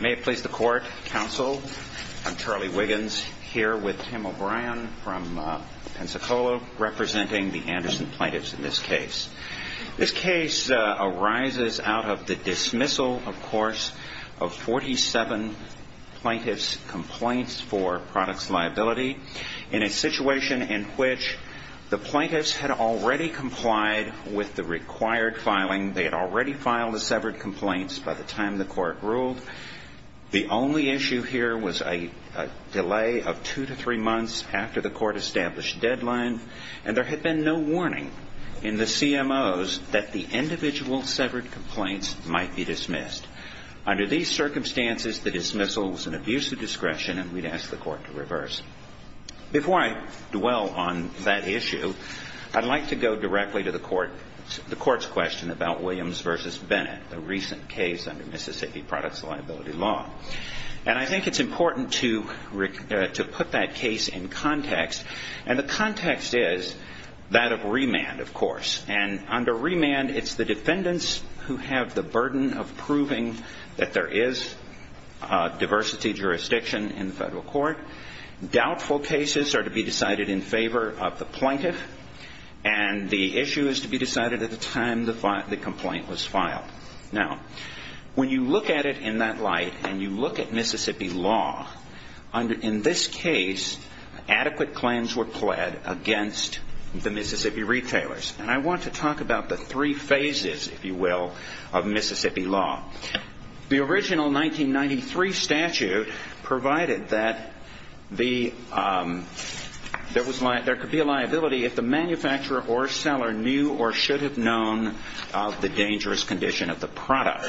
May it please the court, counsel, I'm Charlie Wiggins here with Tim O'Brien from Pensacola representing the Anderson plaintiffs in this case. This case arises out of the dismissal of course of 47 plaintiffs complaints for products liability in a situation in which the plaintiffs had already complied with the required filing. They had already filed the severed complaints by the time the court ruled. The only issue here was a delay of two to three months after the court established deadline. And there had been no warning in the CMOs that the individual severed complaints might be dismissed. Under these circumstances the dismissal was an abuse of discretion and we'd ask the court to reverse it. Before I dwell on that issue, I'd like to go directly to the court's question about Williams v. Bennett, a recent case under Mississippi products liability law. And I think it's important to put that case in context and the context is that the case is that of remand, of course. And under remand it's the defendants who have the burden of proving that there is diversity jurisdiction in the federal court. Doubtful cases are to be decided in favor of the plaintiff and the issue is to be decided at the time the complaint was filed. Now, when you look at it in that light and you look at Mississippi law, in this case adequate claims were pled against the Mississippi retailers. And I want to talk about the three phases, if you will, of Mississippi law. The original 1993 statute provided that there could be a liability if the manufacturer or seller knew or should have known of the dangerous condition of the product.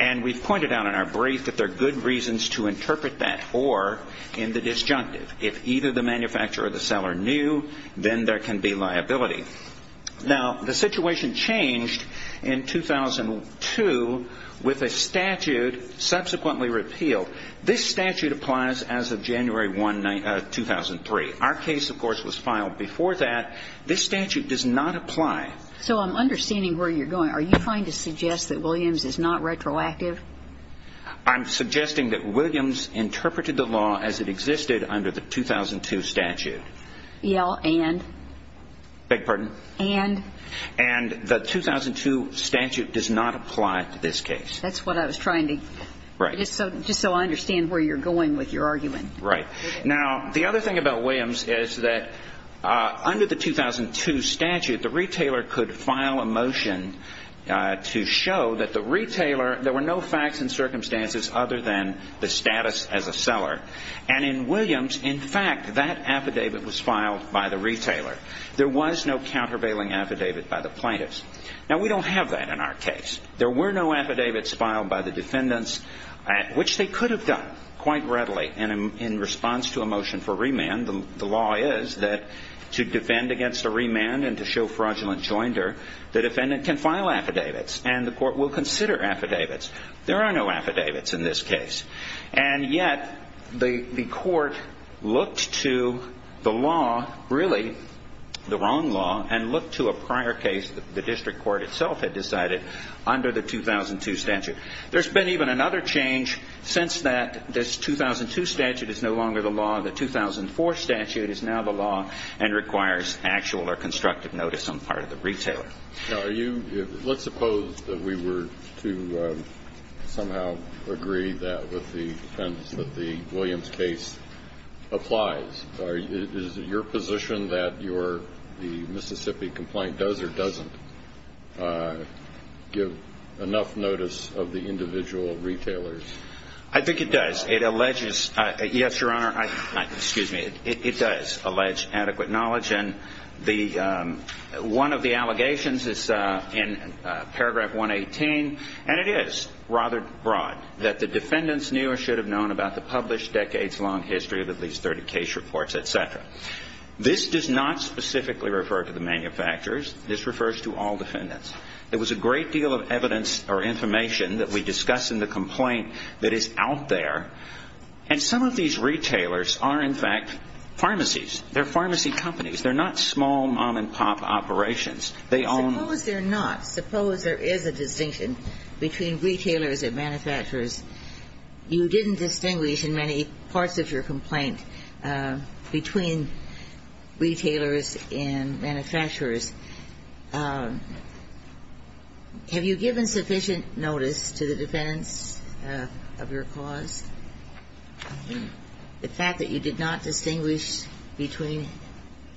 And we've pointed out in our brief that there are good reasons to interpret that or in the disjunctive. If either the manufacturer or the seller knew, then the re can be liability. Now, the situation changed in 2002 with a statute subsequently repealed. This statute applies as of January 1, 2003. Our case, of course, was filed before that. This statute does not apply. So I'm understanding where you're going. Are you trying to suggest that Williams is not retroactive? I'm suggesting that Williams interpreted the law as it existed under the 2002 statute. And? Beg your pardon? And? And the 2002 statute does not apply to this case. That's what I was trying to... Right. Just so I understand where you're going with your argument. Right. Now, the other thing about Williams is that under the 2002 statute, the retailer could file a motion to show that the retailer, there were no facts and circumstances other than the status as a seller. And in Williams, in fact, that affidavit was filed by the retailer. There was no countervailing affidavit by the plaintiffs. Now, we don't have that in our case. There were no affidavits filed by the defendants, which they could have done quite readily in response to a motion for remand. The law is that to defend against a remand and to show fraudulent joinder, the defendant can file affidavits and the court will consider affidavits. There are no affidavits in this case. And yet the court looked to the law, really the wrong law, and looked to a prior case that the district court itself had decided under the 2002 statute. There's been even another change since that. This 2002 statute is no longer the law. The 2004 statute is now the law and requires actual or constructive notice on part of the retailer. Now, let's suppose that we were to somehow agree that with the defendants that the Williams case applies. Is it your position that the Mississippi complaint does or doesn't give enough notice of the individual retailers? I think it does. It alleges adequate knowledge. One of the allegations is in paragraph 118, and it is rather broad, that the defendants knew or should have known about the published decades-long history of at least 30 case reports, etc. This does not specifically refer to the manufacturers. This refers to all defendants. There was a great deal of evidence or information that we discuss in the complaint that is out there. And some of these retailers are, in fact, pharmacies. They're pharmacy companies. They're not small mom-and-pop operations. They own them. Suppose they're not. Suppose there is a distinction between retailers and manufacturers. You didn't distinguish in many parts of your complaint between retailers and manufacturers. Have you given sufficient notice to the defendants of your cause? The fact that you did not distinguish between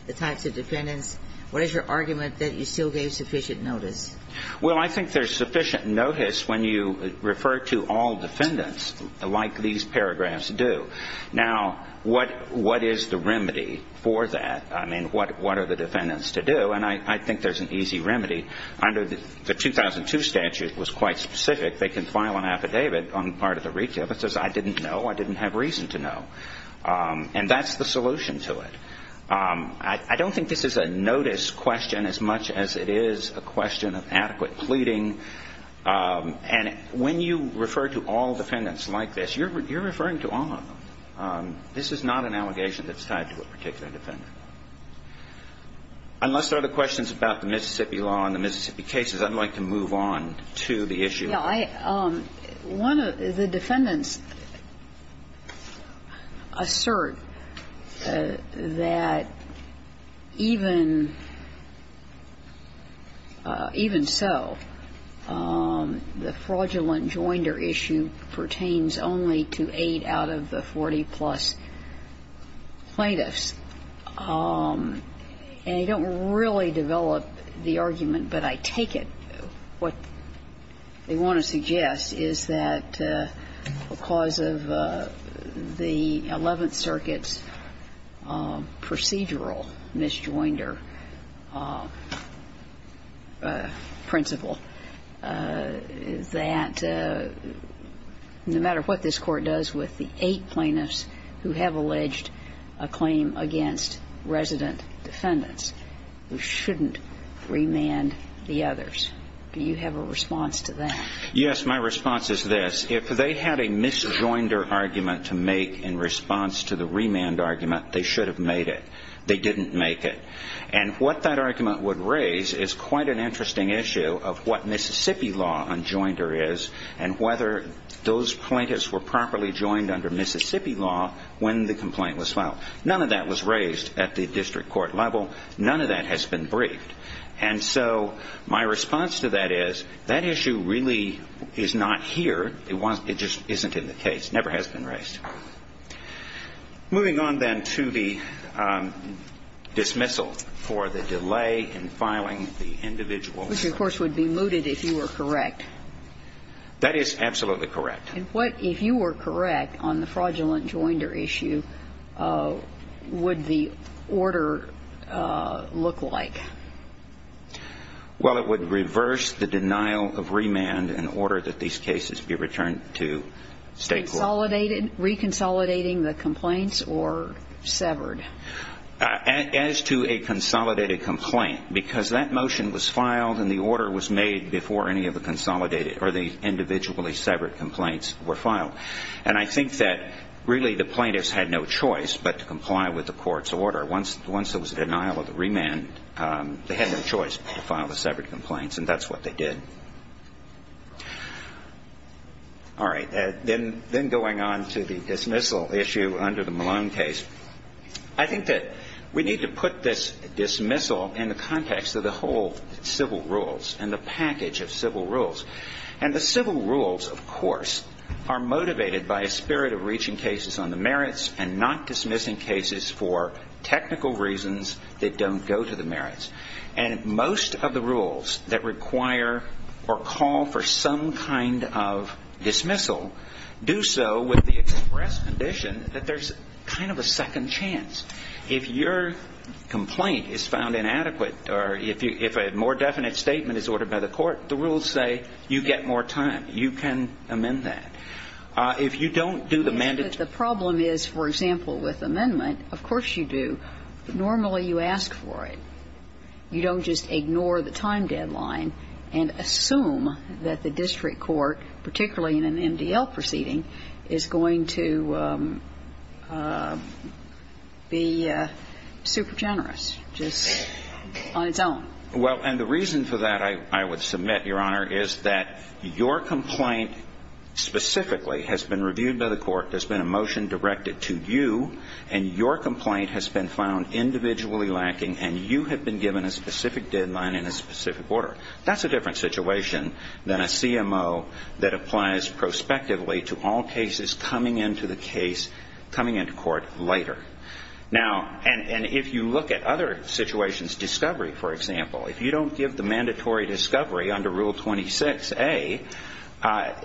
the types of defendants, what is your argument that you still gave sufficient notice? Well, I think there's sufficient notice when you refer to all defendants like these paragraphs do. Now, what is the remedy for that? I mean, what are the defendants to do? And I think there's an easy remedy. Under the 2002 statute, it was quite specific. They can file an affidavit on part of the recap that says, I didn't know. I didn't have reason to know. And that's the solution to it. I don't think this is a notice question as much as it is a question of adequate pleading. And when you refer to all defendants like this, you're referring to all of them. This is not an allegation that's tied to a particular defendant. Unless there are other questions about the Mississippi law and the Mississippi cases, I'd like to move on to the issue. Yeah. One of the defendants assert that even so, the fraudulent joinder issue pertains only to 8 out of the 40-plus plaintiffs. And they don't really develop the argument, but I take it what they want to suggest is that because of the Eleventh Circuit's procedural misjoinder principle, that no matter what this Court does with the 8 plaintiffs who have alleged a claim against resident defendants, we shouldn't remand the others. Do you have a response to that? Yes. My response is this. If they had a misjoinder argument to make in response to the remand argument, they should have made it. They didn't make it. And what that argument would raise is quite an interesting issue of what Mississippi law unjoinder is and whether those plaintiffs were properly joined under Mississippi law when the complaint was filed. None of that was raised at the district court level. None of that has been briefed. And so my response to that is that issue really is not here. It just isn't in the case. It never has been raised. Moving on, then, to the dismissal for the delay in filing the individual. Which, of course, would be mooted if you were correct. That is absolutely correct. And what, if you were correct, on the fraudulent joinder issue would the order look like? Well, it would reverse the denial of remand in order that these cases be returned to state court. Reconsolidating the complaints or severed? As to a consolidated complaint, because that motion was filed and the order was made before any of the individually severed complaints were filed. And I think that really the plaintiffs had no choice but to comply with the court's order. Once there was a denial of remand, they had no choice but to file the severed complaints, and that's what they did. All right. Then going on to the dismissal issue under the Malone case. I think that we need to put this dismissal in the context of the whole civil rules and the package of civil rules. And the civil rules, of course, are motivated by a spirit of reaching cases on the merits and not dismissing cases for technical reasons that don't go to the merits. And most of the rules that require or call for some kind of dismissal do so with the express condition that there's kind of a second chance. If your complaint is found inadequate or if a more definite statement is ordered by the court, the rules say you get more time. You can amend that. If you don't do the mandatory. The problem is, for example, with amendment, of course you do. Normally you ask for it. You don't just ignore the time deadline and assume that the district court, particularly in an MDL proceeding, is going to be super generous just on its own. Well, and the reason for that, I would submit, Your Honor, is that your complaint specifically has been reviewed by the court. There's been a motion directed to you. And your complaint has been found individually lacking, and you have been given a specific deadline and a specific order. That's a different situation than a CMO that applies prospectively to all cases coming into the case, coming into court later. Now, and if you look at other situations, discovery, for example, if you don't give the mandatory discovery under Rule 26A,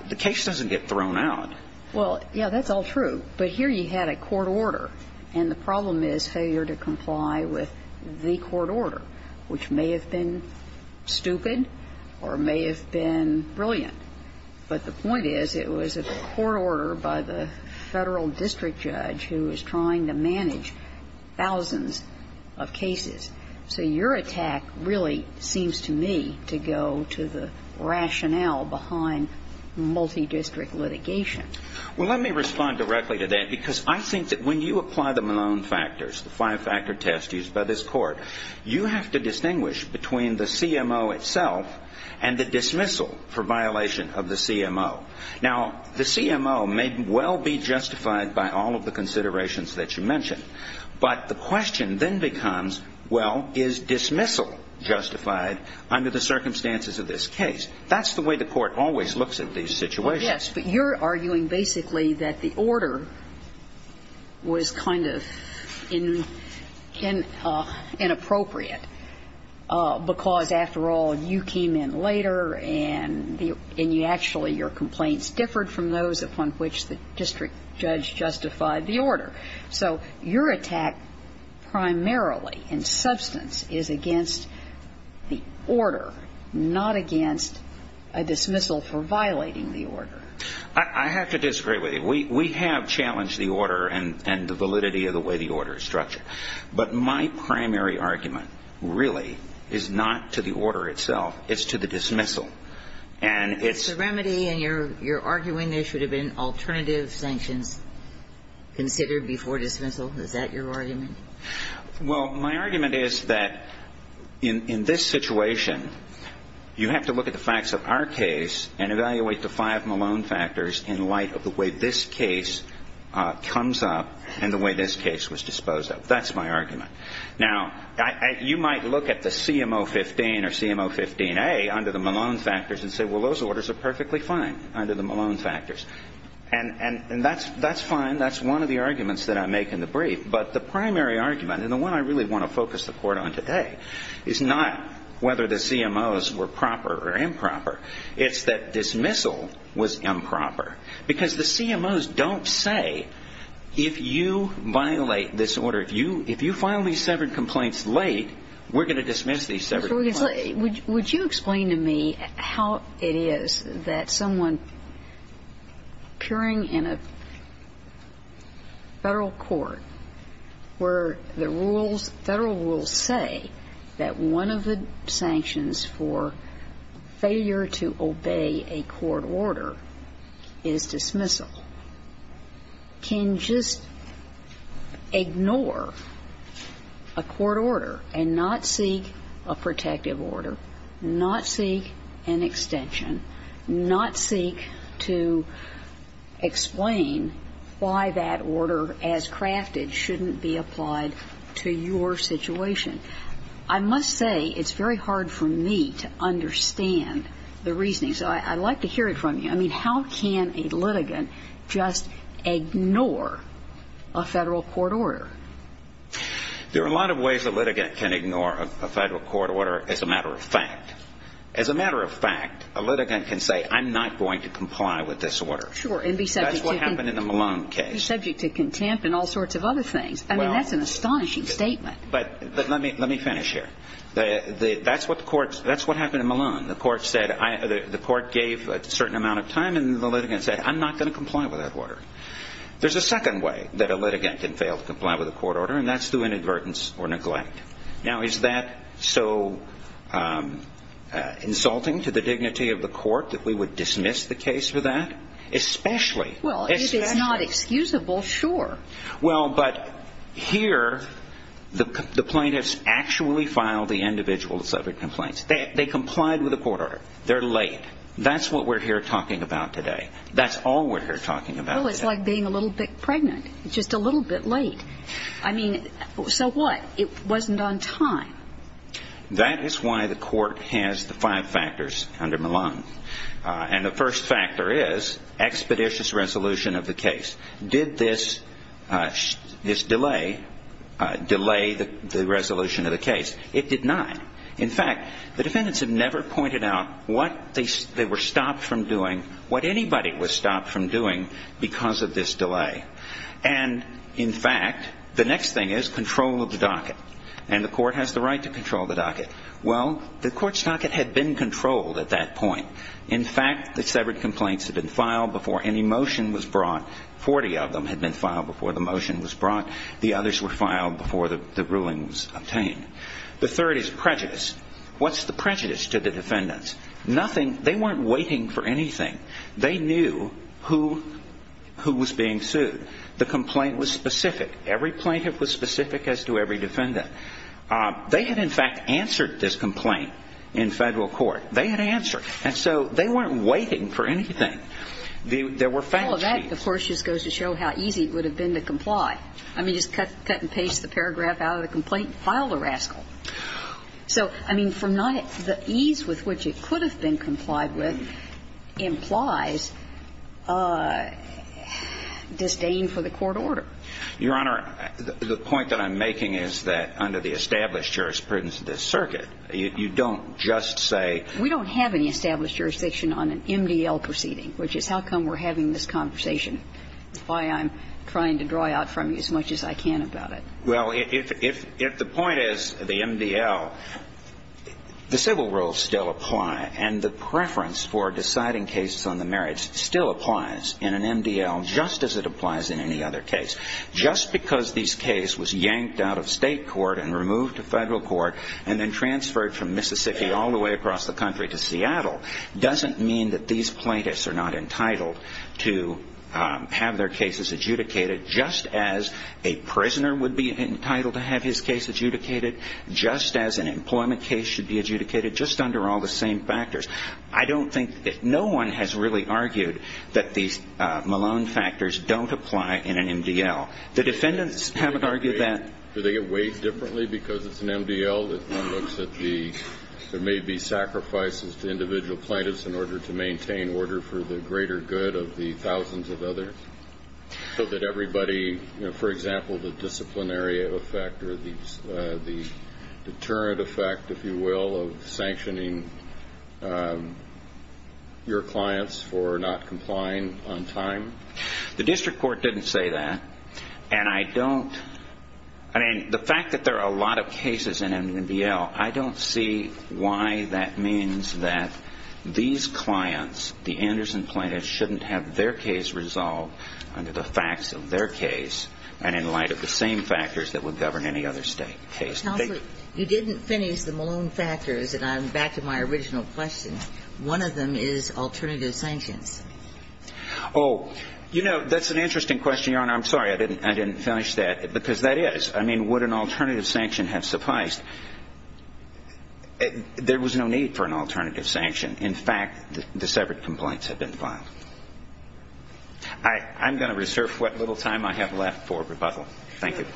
the case doesn't get thrown out. Well, yeah, that's all true. But here you had a court order, and the problem is failure to comply with the court order, which may have been stupid or may have been brilliant. But the point is it was a court order by the Federal district judge who was trying to manage thousands of cases. So your attack really seems to me to go to the rationale behind multidistrict litigation. Well, let me respond directly to that, because I think that when you apply the Malone factors, the five-factor test used by this court, you have to distinguish between the CMO itself and the dismissal for violation of the CMO. Now, the CMO may well be justified by all of the considerations that you mentioned, but the question then becomes, well, is dismissal justified under the circumstances of this case? That's the way the court always looks at these situations. Yes, but you're arguing basically that the order was kind of inappropriate because, after all, you came in later and the actually your complaints differed from those upon which the district judge justified the order. So your attack primarily in substance is against the order, not against a dismissal for violating the order. I have to disagree with you. We have challenged the order and the validity of the way the order is structured. But my primary argument really is not to the order itself. It's to the dismissal. And it's the remedy, and you're arguing there should have been alternative sanctions considered before dismissal. Is that your argument? Well, my argument is that in this situation, you have to look at the facts of our case and evaluate the five Malone factors in light of the way this case comes up and the way this case was disposed of. That's my argument. Now, you might look at the CMO 15 or CMO 15A under the Malone factors and say, well, those orders are perfectly fine under the Malone factors. And that's fine. That's one of the arguments that I make in the brief. But the primary argument, and the one I really want to focus the court on today, is not whether the CMOs were proper or improper. It's that dismissal was improper. Because the CMOs don't say, if you violate this order, if you file these severed complaints late, we're going to dismiss these severed complaints. Would you explain to me how it is that someone appearing in a federal court where the rules, federal rules say that one of the sanctions for failure to obey a court order is dismissal, can just ignore a court order and not seek a protective order, not seek an extension, not seek to explain why that order as crafted shouldn't be applied to your situation? I must say, it's very hard for me to understand the reasoning. So I'd like to hear it from you. I mean, how can a litigant just ignore a federal court order? There are a lot of ways a litigant can ignore a federal court order as a matter of fact. As a matter of fact, a litigant can say, I'm not going to comply with this order. Sure. And be subject to contempt. That's what happened in the Malone case. And be subject to contempt and all sorts of other things. I mean, that's an astonishing statement. But let me finish here. That's what the court – that's what happened in Malone. The court said – the court gave a certain amount of time and the litigant said, I'm not going to comply with that order. There's a second way that a litigant can fail to comply with a court order, and that's through inadvertence or neglect. Now, is that so insulting to the dignity of the court that we would dismiss the case for that? Especially – Well, if it's not excusable, sure. Well, but here, the plaintiffs actually filed the individual subject complaints. They complied with the court order. They're late. That's what we're here talking about today. That's all we're here talking about today. Well, it's like being a little bit pregnant. Just a little bit late. I mean, so what? It wasn't on time. That is why the court has the five factors under Malone. And the first factor is expeditious resolution of the case. Did this delay the resolution of the case? It did not. In fact, the defendants have never pointed out what they were stopped from doing, what anybody was stopped from doing because of this delay. And, in fact, the next thing is control of the docket. And the court has the right to control the docket. Well, the court's docket had been controlled at that point. In fact, the severed complaints had been filed before any motion was brought. Forty of them had been filed before the motion was brought. The others were filed before the ruling was obtained. The third is prejudice. What's the prejudice to the defendants? Nothing. They weren't waiting for anything. They knew who was being sued. The complaint was specific. Every plaintiff was specific as to every defendant. They had, in fact, answered this complaint in Federal court. They had answered. And so they weren't waiting for anything. There were fact sheets. Well, that, of course, just goes to show how easy it would have been to comply. I mean, just cut and paste the paragraph out of the complaint and file the rascal. So, I mean, from not the ease with which it could have been complied with implies disdain for the court order. Your Honor, the point that I'm making is that under the established jurisprudence of this circuit, you don't just say we don't have any established jurisdiction on an MDL proceeding, which is how come we're having this conversation. That's why I'm trying to draw out from you as much as I can about it. Well, if the point is the MDL, the civil rules still apply, and the preference for deciding cases on the merits still applies in an MDL just as it applies in any other case. Just because this case was yanked out of state court and removed to Federal court and then transferred from Mississippi all the way across the country to Seattle doesn't mean that these plaintiffs are not entitled to have their cases adjudicated just as a prisoner would be entitled to have his case adjudicated, just as an employment case should be adjudicated, just under all the same factors. I don't think that no one has really argued that these Malone factors don't apply in an MDL. The defendants haven't argued that. Do they get weighed differently because it's an MDL that looks at the there may be sacrifices to individual plaintiffs in order to maintain order for the greater good of the thousands of others so that everybody, for example, the disciplinary effect or the deterrent effect, if you will, of sanctioning your clients for not complying on time? The district court didn't say that, and I don't, I mean, the fact that there are a lot of cases in MDL, I don't see why that means that these clients, the Anderson plaintiffs, shouldn't have their case resolved under the facts of their case and in light of the same factors that would govern any other case. Counsel, you didn't finish the Malone factors, and I'm back to my original question. One of them is alternative sanctions. Oh, you know, that's an interesting question, Your Honor. I'm sorry I didn't finish that, because that is. I mean, would an alternative sanction have sufficed? There was no need for an alternative sanction. In fact, the separate complaints have been filed. I'm going to reserve what little time I have left for rebuttal. Thank you.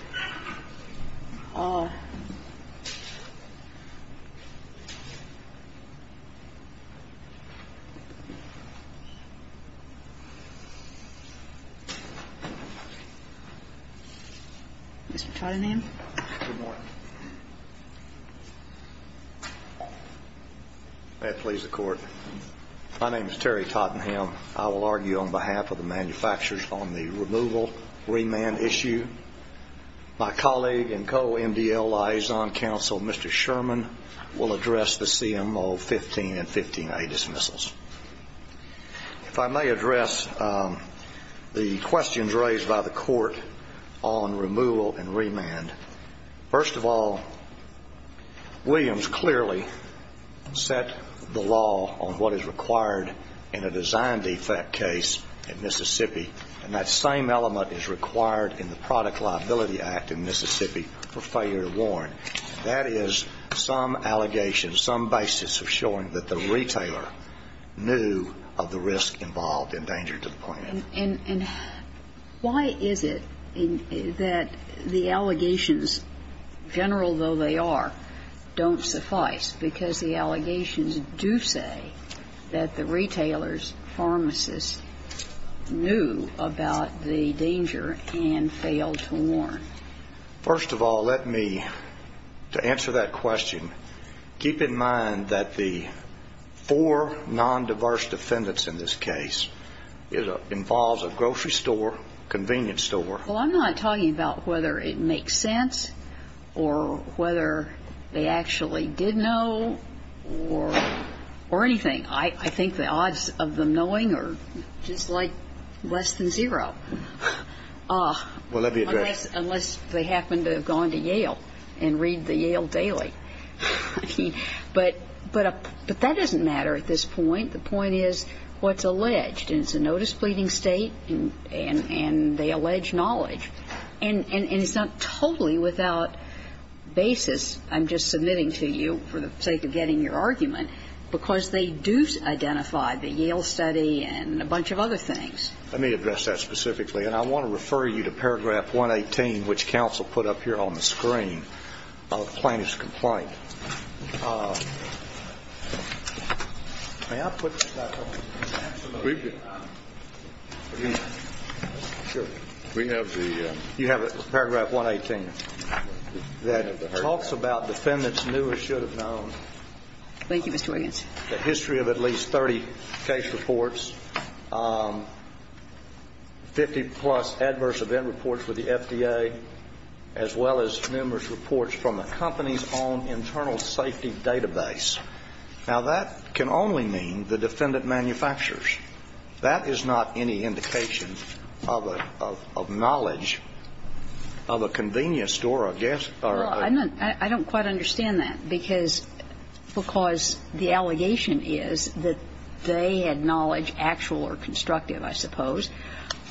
Mr. Tottenham. Good morning. May it please the Court. My name is Terry Tottenham. I will argue on behalf of the manufacturers on the removal, remand issue. My colleague and co-MDL liaison counsel, Mr. Sherman, will address the CMO 15 and 15A dismissals. If I may address the questions raised by the Court on removal and remand. First of all, Williams clearly set the law on what is required in a design defect case in Mississippi, and that same element is required in the Product Liability Act in Mississippi for failure to warn. That is some allegation, some basis for showing that the retailer knew of the risk involved in danger to the plant. And why is it that the allegations, general though they are, don't suffice, because the allegations do say that the retailer's pharmacist knew about the danger and failed to warn? First of all, let me, to answer that question, keep in mind that the four non-diverse defendants in this case involves a grocery store, convenience store. Well, I'm not talking about whether it makes sense or whether they actually did know or anything. I think the odds of them knowing are just like less than zero. Well, let me address. Unless they happen to have gone to Yale and read the Yale Daily. But that doesn't matter at this point. The point is what's alleged. And it's a notice pleading state, and they allege knowledge. And it's not totally without basis. I'm just submitting to you for the sake of getting your argument, because they do identify the Yale study and a bunch of other things. Let me address that specifically. And I want to refer you to paragraph 118, which counsel put up here on the screen about the plaintiff's complaint. May I put this back up? Absolutely. We have the. You have paragraph 118 that talks about defendants knew or should have known. Thank you, Mr. Williams. The history of at least 30 case reports, 50 plus adverse event reports with the FDA, as well as numerous reports from the company's own internal safety database. Now, that can only mean the defendant manufactures. That is not any indication of a knowledge of a convenience store or a guest or a. Well, I don't quite understand that. Because the allegation is that they had knowledge, actual or constructive, I suppose,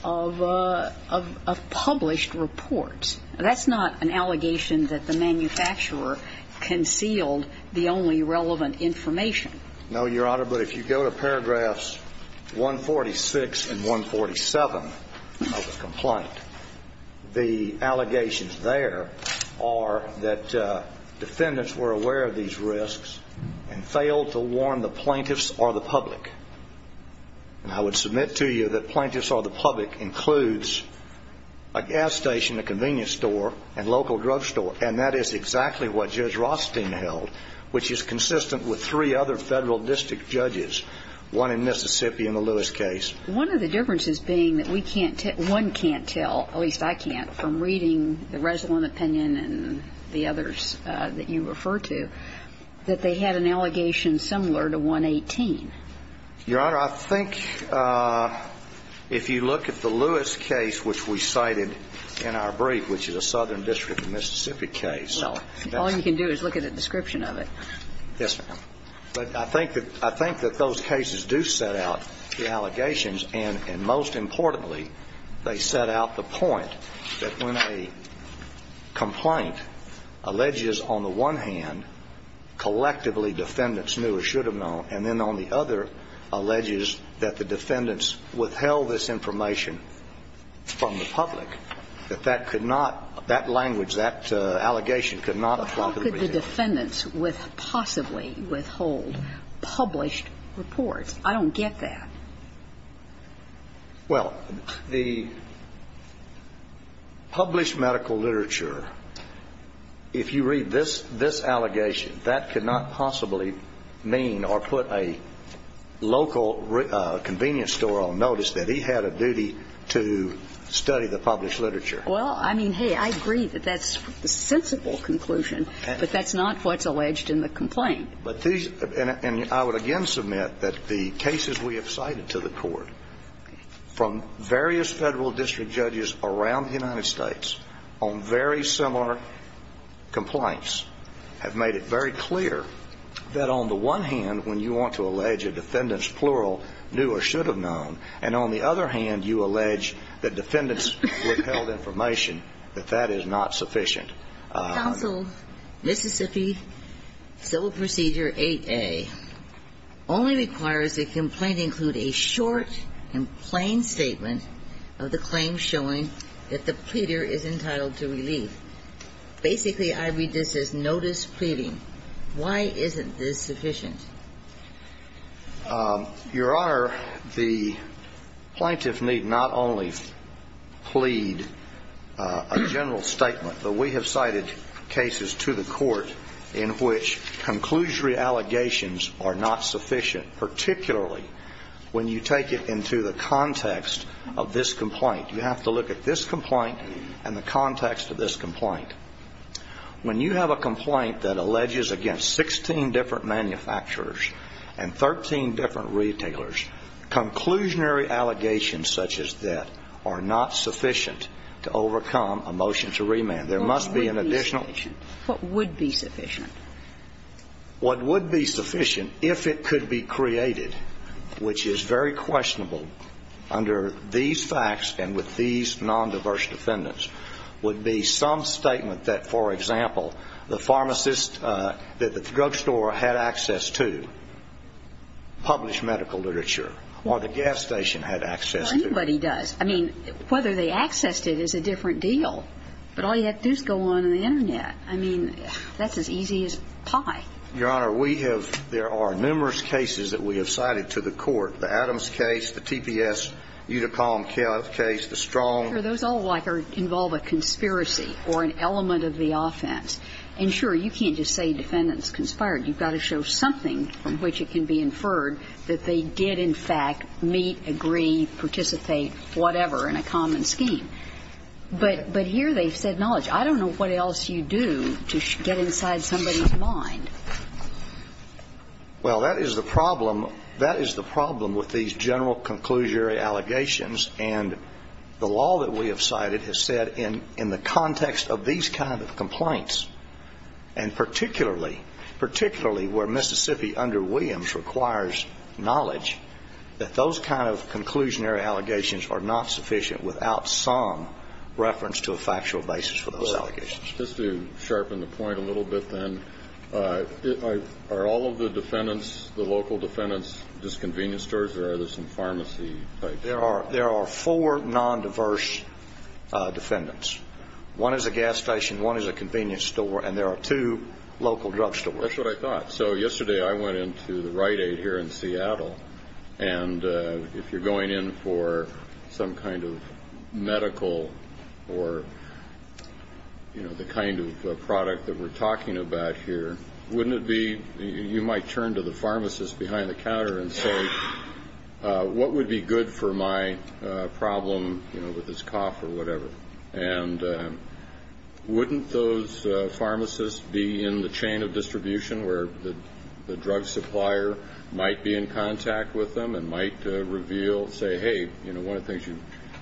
of published reports. That's not an allegation that the manufacturer concealed the only relevant information. No, Your Honor. But if you go to paragraphs 146 and 147 of the complaint, the allegations there are that defendants were aware of these risks and failed to warn the plaintiffs or the public. And I would submit to you that plaintiffs or the public includes a gas station, a convenience store, and local drugstore. And that is exactly what Judge Rothstein held, which is consistent with three other federal district judges, one in Mississippi in the Lewis case. One of the differences being that we can't tell, one can't tell, at least I can't, from reading the Resolent opinion and the others that you refer to, that they had an allegation similar to 118. Your Honor, I think if you look at the Lewis case, which we cited in our brief, which is a southern district in Mississippi case. All you can do is look at a description of it. Yes, ma'am. But I think that those cases do set out the allegations, and most importantly, they set out the point that when a complaint alleges, on the one hand, collectively defendants knew or should have known, and then on the other, alleges that the defendants withheld this information from the public, that that could not, that language, that allegation could not apply. But how could the defendants possibly withhold published reports? I don't get that. Well, the published medical literature, if you read this, this allegation, that could not possibly mean or put a local convenience store on notice that he had a duty to study the published literature. Well, I mean, hey, I agree that that's a sensible conclusion, but that's not what's alleged in the complaint. And I would again submit that the cases we have cited to the court from various federal district judges around the United States on very similar complaints have made it very clear that on the one hand, when you want to allege a defendant's plural knew or should have known, and on the other hand, you allege that defendants withheld information, that that is not sufficient. Counsel, Mississippi Civil Procedure 8A only requires the complaint include a short and plain statement of the claim showing that the pleader is entitled to relief. Basically, I read this as notice pleading. Why isn't this sufficient? Your Honor, the plaintiff need not only plead a general statement, but we have seen cases to the court in which conclusionary allegations are not sufficient, particularly when you take it into the context of this complaint. You have to look at this complaint and the context of this complaint. When you have a complaint that alleges against 16 different manufacturers and 13 different retailers, conclusionary allegations such as that are not sufficient to overcome a motion to remand. There must be an additional What would be sufficient? What would be sufficient, if it could be created, which is very questionable under these facts and with these nondiverse defendants, would be some statement that, for example, the pharmacist that the drugstore had access to published medical literature or the gas station had access to. Well, anybody does. I mean, whether they accessed it is a different deal. But all you have to do is go on the Internet. I mean, that's as easy as pie. Your Honor, we have ‑‑ there are numerous cases that we have cited to the court, the Adams case, the TPS Uticom case, the Strong. Those all, like, involve a conspiracy or an element of the offense. And, sure, you can't just say defendants conspired. You've got to show something from which it can be inferred that they did, in fact, meet, agree, participate, whatever, in a common scheme. But here they've said knowledge. I don't know what else you do to get inside somebody's mind. Well, that is the problem. That is the problem with these general conclusionary allegations. And the law that we have cited has said in the context of these kind of complaints and particularly, particularly where Mississippi under Williams requires knowledge, that those kind of conclusionary allegations are not sufficient without some reference to a factual basis for those allegations. Just to sharpen the point a little bit, then, are all of the defendants, the local defendants, just convenience stores, or are there some pharmacy types? There are four nondiverse defendants. One is a gas station, one is a convenience store, and there are two local drug stores. That's what I thought. So yesterday I went into the Rite Aid here in Seattle, and if you're going in for some kind of medical or the kind of product that we're talking about here, wouldn't it be you might turn to the pharmacist behind the counter and say, what would be good for my problem with this cough or whatever? And wouldn't those pharmacists be in the chain of distribution where the drug supplier might be in contact with them and might reveal, say, hey, you know, one of the things you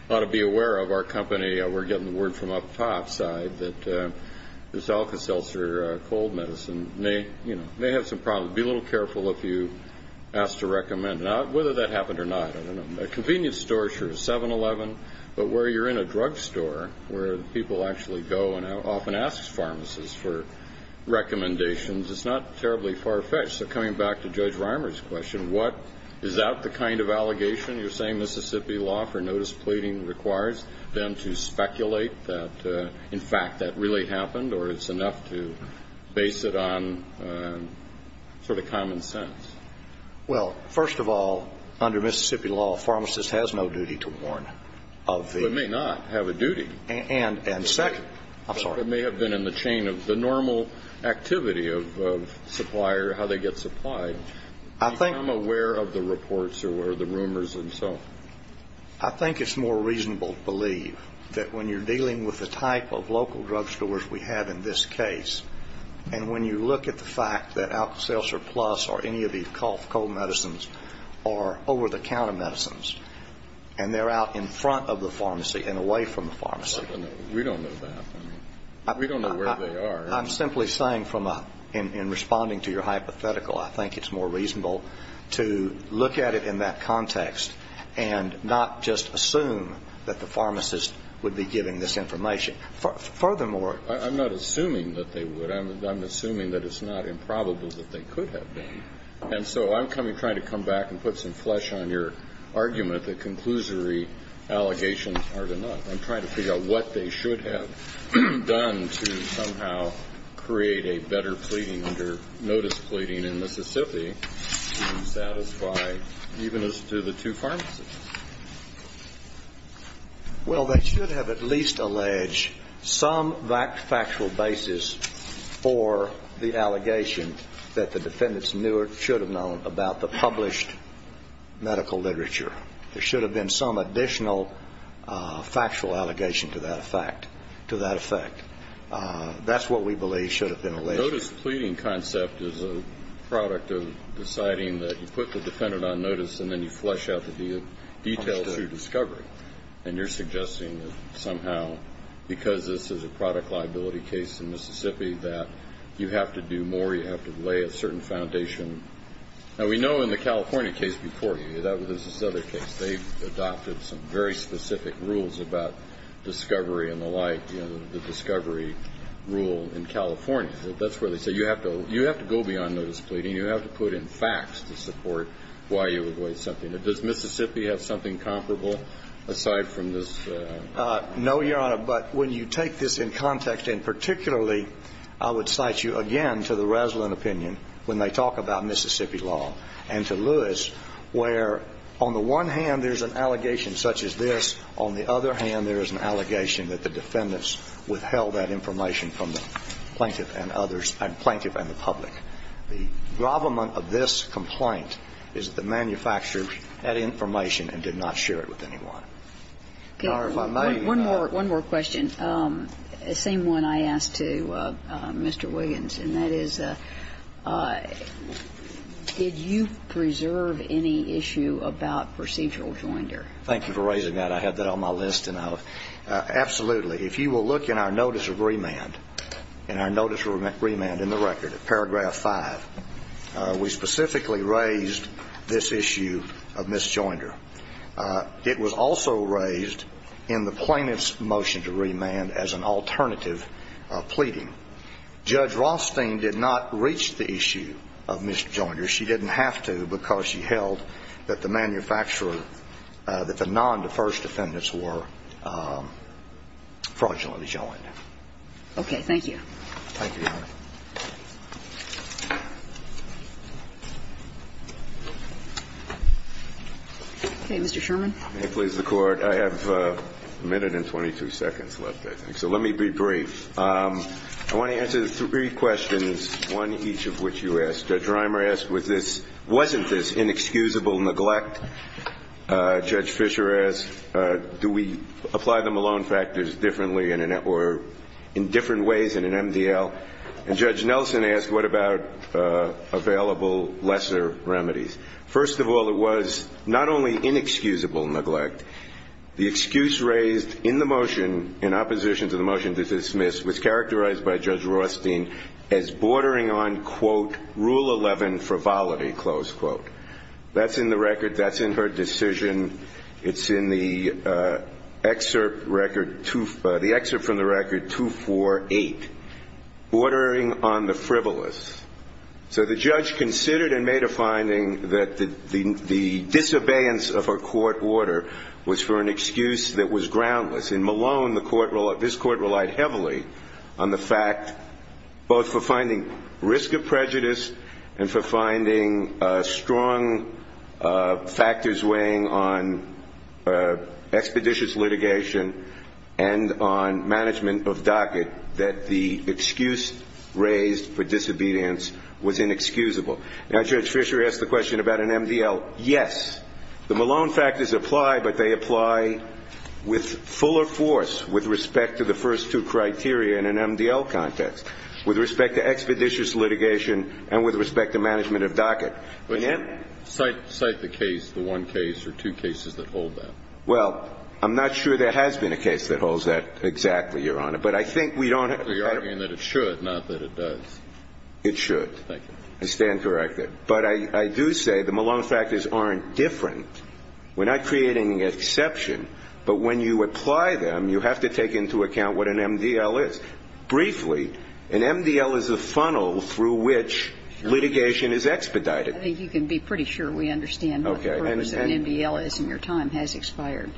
ought to be aware of, our company, we're getting the word from up top side, that this Alka-Seltzer cold medicine may, you know, may have some problems. Be a little careful if you ask to recommend. Now, whether that happened or not, I don't know. And a convenience store, sure, is 7-Eleven. But where you're in a drug store, where people actually go and often ask pharmacists for recommendations, it's not terribly far-fetched. So coming back to Judge Reimer's question, what – is that the kind of allegation you're saying Mississippi law for notice pleading requires them to speculate that, in fact, that really happened, or it's enough to base it on sort of common sense? Well, first of all, under Mississippi law, a pharmacist has no duty to warn of the – But may not have a duty. And second – I'm sorry. But may have been in the chain of the normal activity of supplier, how they get supplied. I think – Become aware of the reports or the rumors and so. I think it's more reasonable to believe that when you're dealing with the type of local drug stores we have in this case, and when you look at the fact that Alka-Seltzer Plus or any of these cold medicines are over-the-counter medicines and they're out in front of the pharmacy and away from the pharmacy. We don't know that. We don't know where they are. I'm simply saying from a – in responding to your hypothetical, I think it's more reasonable to look at it in that context and not just assume that the pharmacist would be giving this information. Furthermore – I'm not assuming that they would. I'm assuming that it's not improbable that they could have been. And so I'm trying to come back and put some flesh on your argument that conclusory allegations aren't enough. I'm trying to figure out what they should have done to somehow create a better pleading under notice pleading in Mississippi to satisfy even as to the two pharmacists. Well, they should have at least alleged some factual basis for the allegation that the defendants knew or should have known about the published medical literature. There should have been some additional factual allegation to that effect. That's what we believe should have been alleged. Notice pleading concept is a product of deciding that you put the defendant on notice and then you flesh out the details through discovery. And you're suggesting that somehow, because this is a product liability case in Mississippi, that you have to do more, you have to lay a certain foundation. Now, we know in the California case before you, this is another case, they've adopted some very specific rules about discovery and the like, the discovery rule in California. That's where they say you have to go beyond notice pleading, you have to put in facts to support why you avoid something. Does Mississippi have something comparable aside from this? No, Your Honor. But when you take this in context, and particularly, I would cite you again to the Raslin opinion when they talk about Mississippi law and to Lewis, where on the one hand there's an allegation such as this. On the other hand, there is an allegation that the defendants withheld that information from the plaintiff and others, plaintiff and the public. The goblement of this complaint is that the manufacturer had information and did not share it with anyone. Your Honor, if I may, Your Honor. One more question. The same one I asked to Mr. Williams, and that is, did you preserve any issue about procedural joinder? Thank you for raising that. I have that on my list. Absolutely. If you will look in our notice of remand, in our notice of remand in the record, paragraph 5, we specifically raised this issue of misjoinder. It was also raised in the plaintiff's motion to remand as an alternative of pleading. Judge Rothstein did not reach the issue of misjoinder. She didn't have to because she held that the manufacturer, that the non-deferred defendants were fraudulently joined. Okay. Thank you. Thank you, Your Honor. Okay. Mr. Sherman. If it pleases the Court, I have a minute and 22 seconds left, I think. So let me be brief. I want to answer three questions, one each of which you asked. Judge Reimer asked, was this, wasn't this inexcusable neglect? Judge Fisher asked, do we apply the Malone factors differently in a network or in different ways in an MDL? And Judge Nelson asked, what about available lesser remedies? First of all, it was not only inexcusable neglect. The excuse raised in the motion, in opposition to the motion to dismiss, was characterized by Judge Rothstein as bordering on, quote, rule 11 frivolity, close quote. That's in the record. That's in her decision. It's in the excerpt record, the excerpt from the record 248. Bordering on the frivolous. So the judge considered and made a finding that the disobedience of a court order was for an excuse that was groundless. In Malone, this court relied heavily on the fact, both for finding risk of prejudice and for finding strong factors weighing on expeditious litigation and on management of docket, that the excuse raised for disobedience was inexcusable. Now, Judge Fisher asked the question about an MDL. Yes, the Malone factors apply, but they apply with fuller force with respect to the first two criteria in an MDL context, with respect to expeditious litigation and with respect to management of docket. But cite the case, the one case or two cases that hold that. Well, I'm not sure there has been a case that holds that exactly, Your Honor. But I think we don't have to argue that it should, not that it does. It should. Thank you. I stand corrected. But I do say the Malone factors aren't different. We're not creating an exception. But when you apply them, you have to take into account what an MDL is. Briefly, an MDL is a funnel through which litigation is expedited. I think you can be pretty sure we understand what the purpose of an MDL is and your time has expired.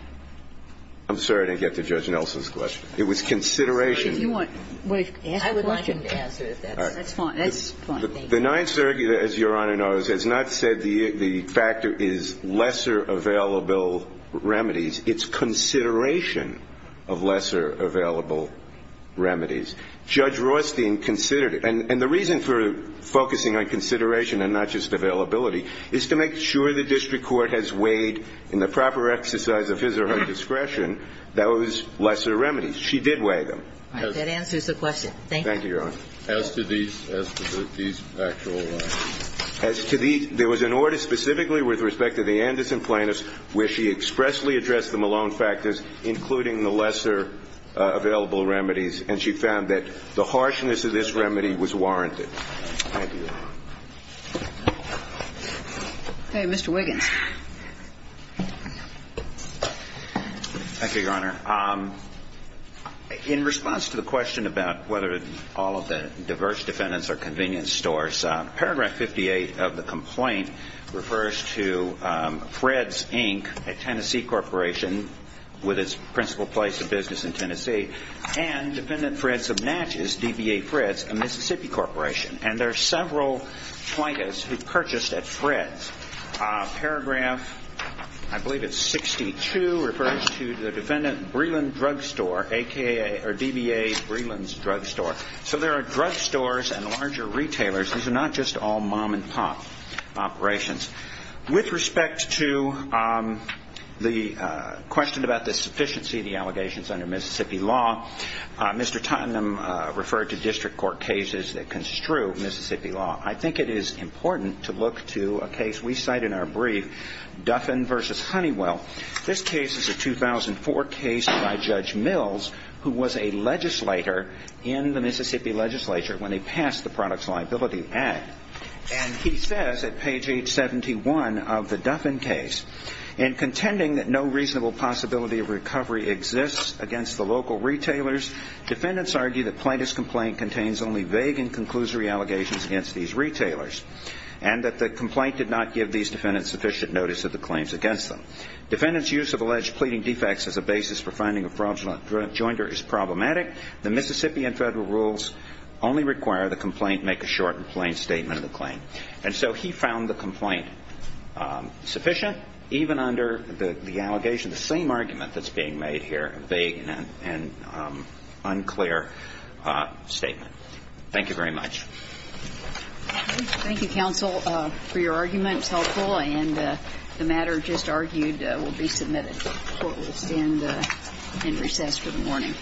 I'm sorry I didn't get to Judge Nelson's question. It was consideration. If you want to ask a question. I would like him to answer if that's fine. That's fine. Thank you. The Ninth Circuit, as Your Honor knows, has not said the factor is lesser available remedies. It's consideration of lesser available remedies. Judge Rothstein considered it. And the reason for focusing on consideration and not just availability is to make sure the district court has weighed in the proper exercise of his or her discretion those lesser remedies. She did weigh them. That answers the question. Thank you. Thank you, Your Honor. As to these actual remedies? As to these, there was an order specifically with respect to the Anderson plaintiffs where she expressly addressed the Malone factors, including the lesser available remedies, and she found that the harshness of this remedy was warranted. Thank you. Okay. Mr. Wiggins. Thank you, Your Honor. In response to the question about whether all of the diverse defendants are convenience stores, paragraph 58 of the complaint refers to Fred's, Inc., a Tennessee corporation with its principal place of business in Tennessee, and Defendant Fred Subnatches, DBA Fred's, a Mississippi corporation. And there are several FIDAs who purchased at Fred's. Paragraph, I believe it's 62, refers to the Defendant Breland Drugstore, DBA Breland's Drugstore. So there are drugstores and larger retailers. These are not just all mom-and-pop operations. With respect to the question about the sufficiency of the allegations under Mississippi law, Mr. Tottenham referred to district court cases that construe Mississippi law. I think it is important to look to a case we cite in our brief, Duffin v. Honeywell. This case is a 2004 case by Judge Mills, who was a legislator in the Mississippi legislature when they passed the Products Liability Act. And he says at page 871 of the Duffin case, In contending that no reasonable possibility of recovery exists against the local retailers, defendants argue that Plaintiff's complaint contains only vague and conclusory allegations against these retailers, and that the complaint did not give these defendants sufficient notice of the claims against them. Defendants' use of alleged pleading defects as a basis for finding a fraudulent jointer is problematic. The Mississippi and federal rules only require the complaint make a short and concise statement of the claim. And so he found the complaint sufficient, even under the allegation, the same argument that's being made here, a vague and unclear statement. Thank you very much. Thank you, counsel, for your arguments. Helpful. And the matter just argued will be submitted. Court will stand in recess for the morning.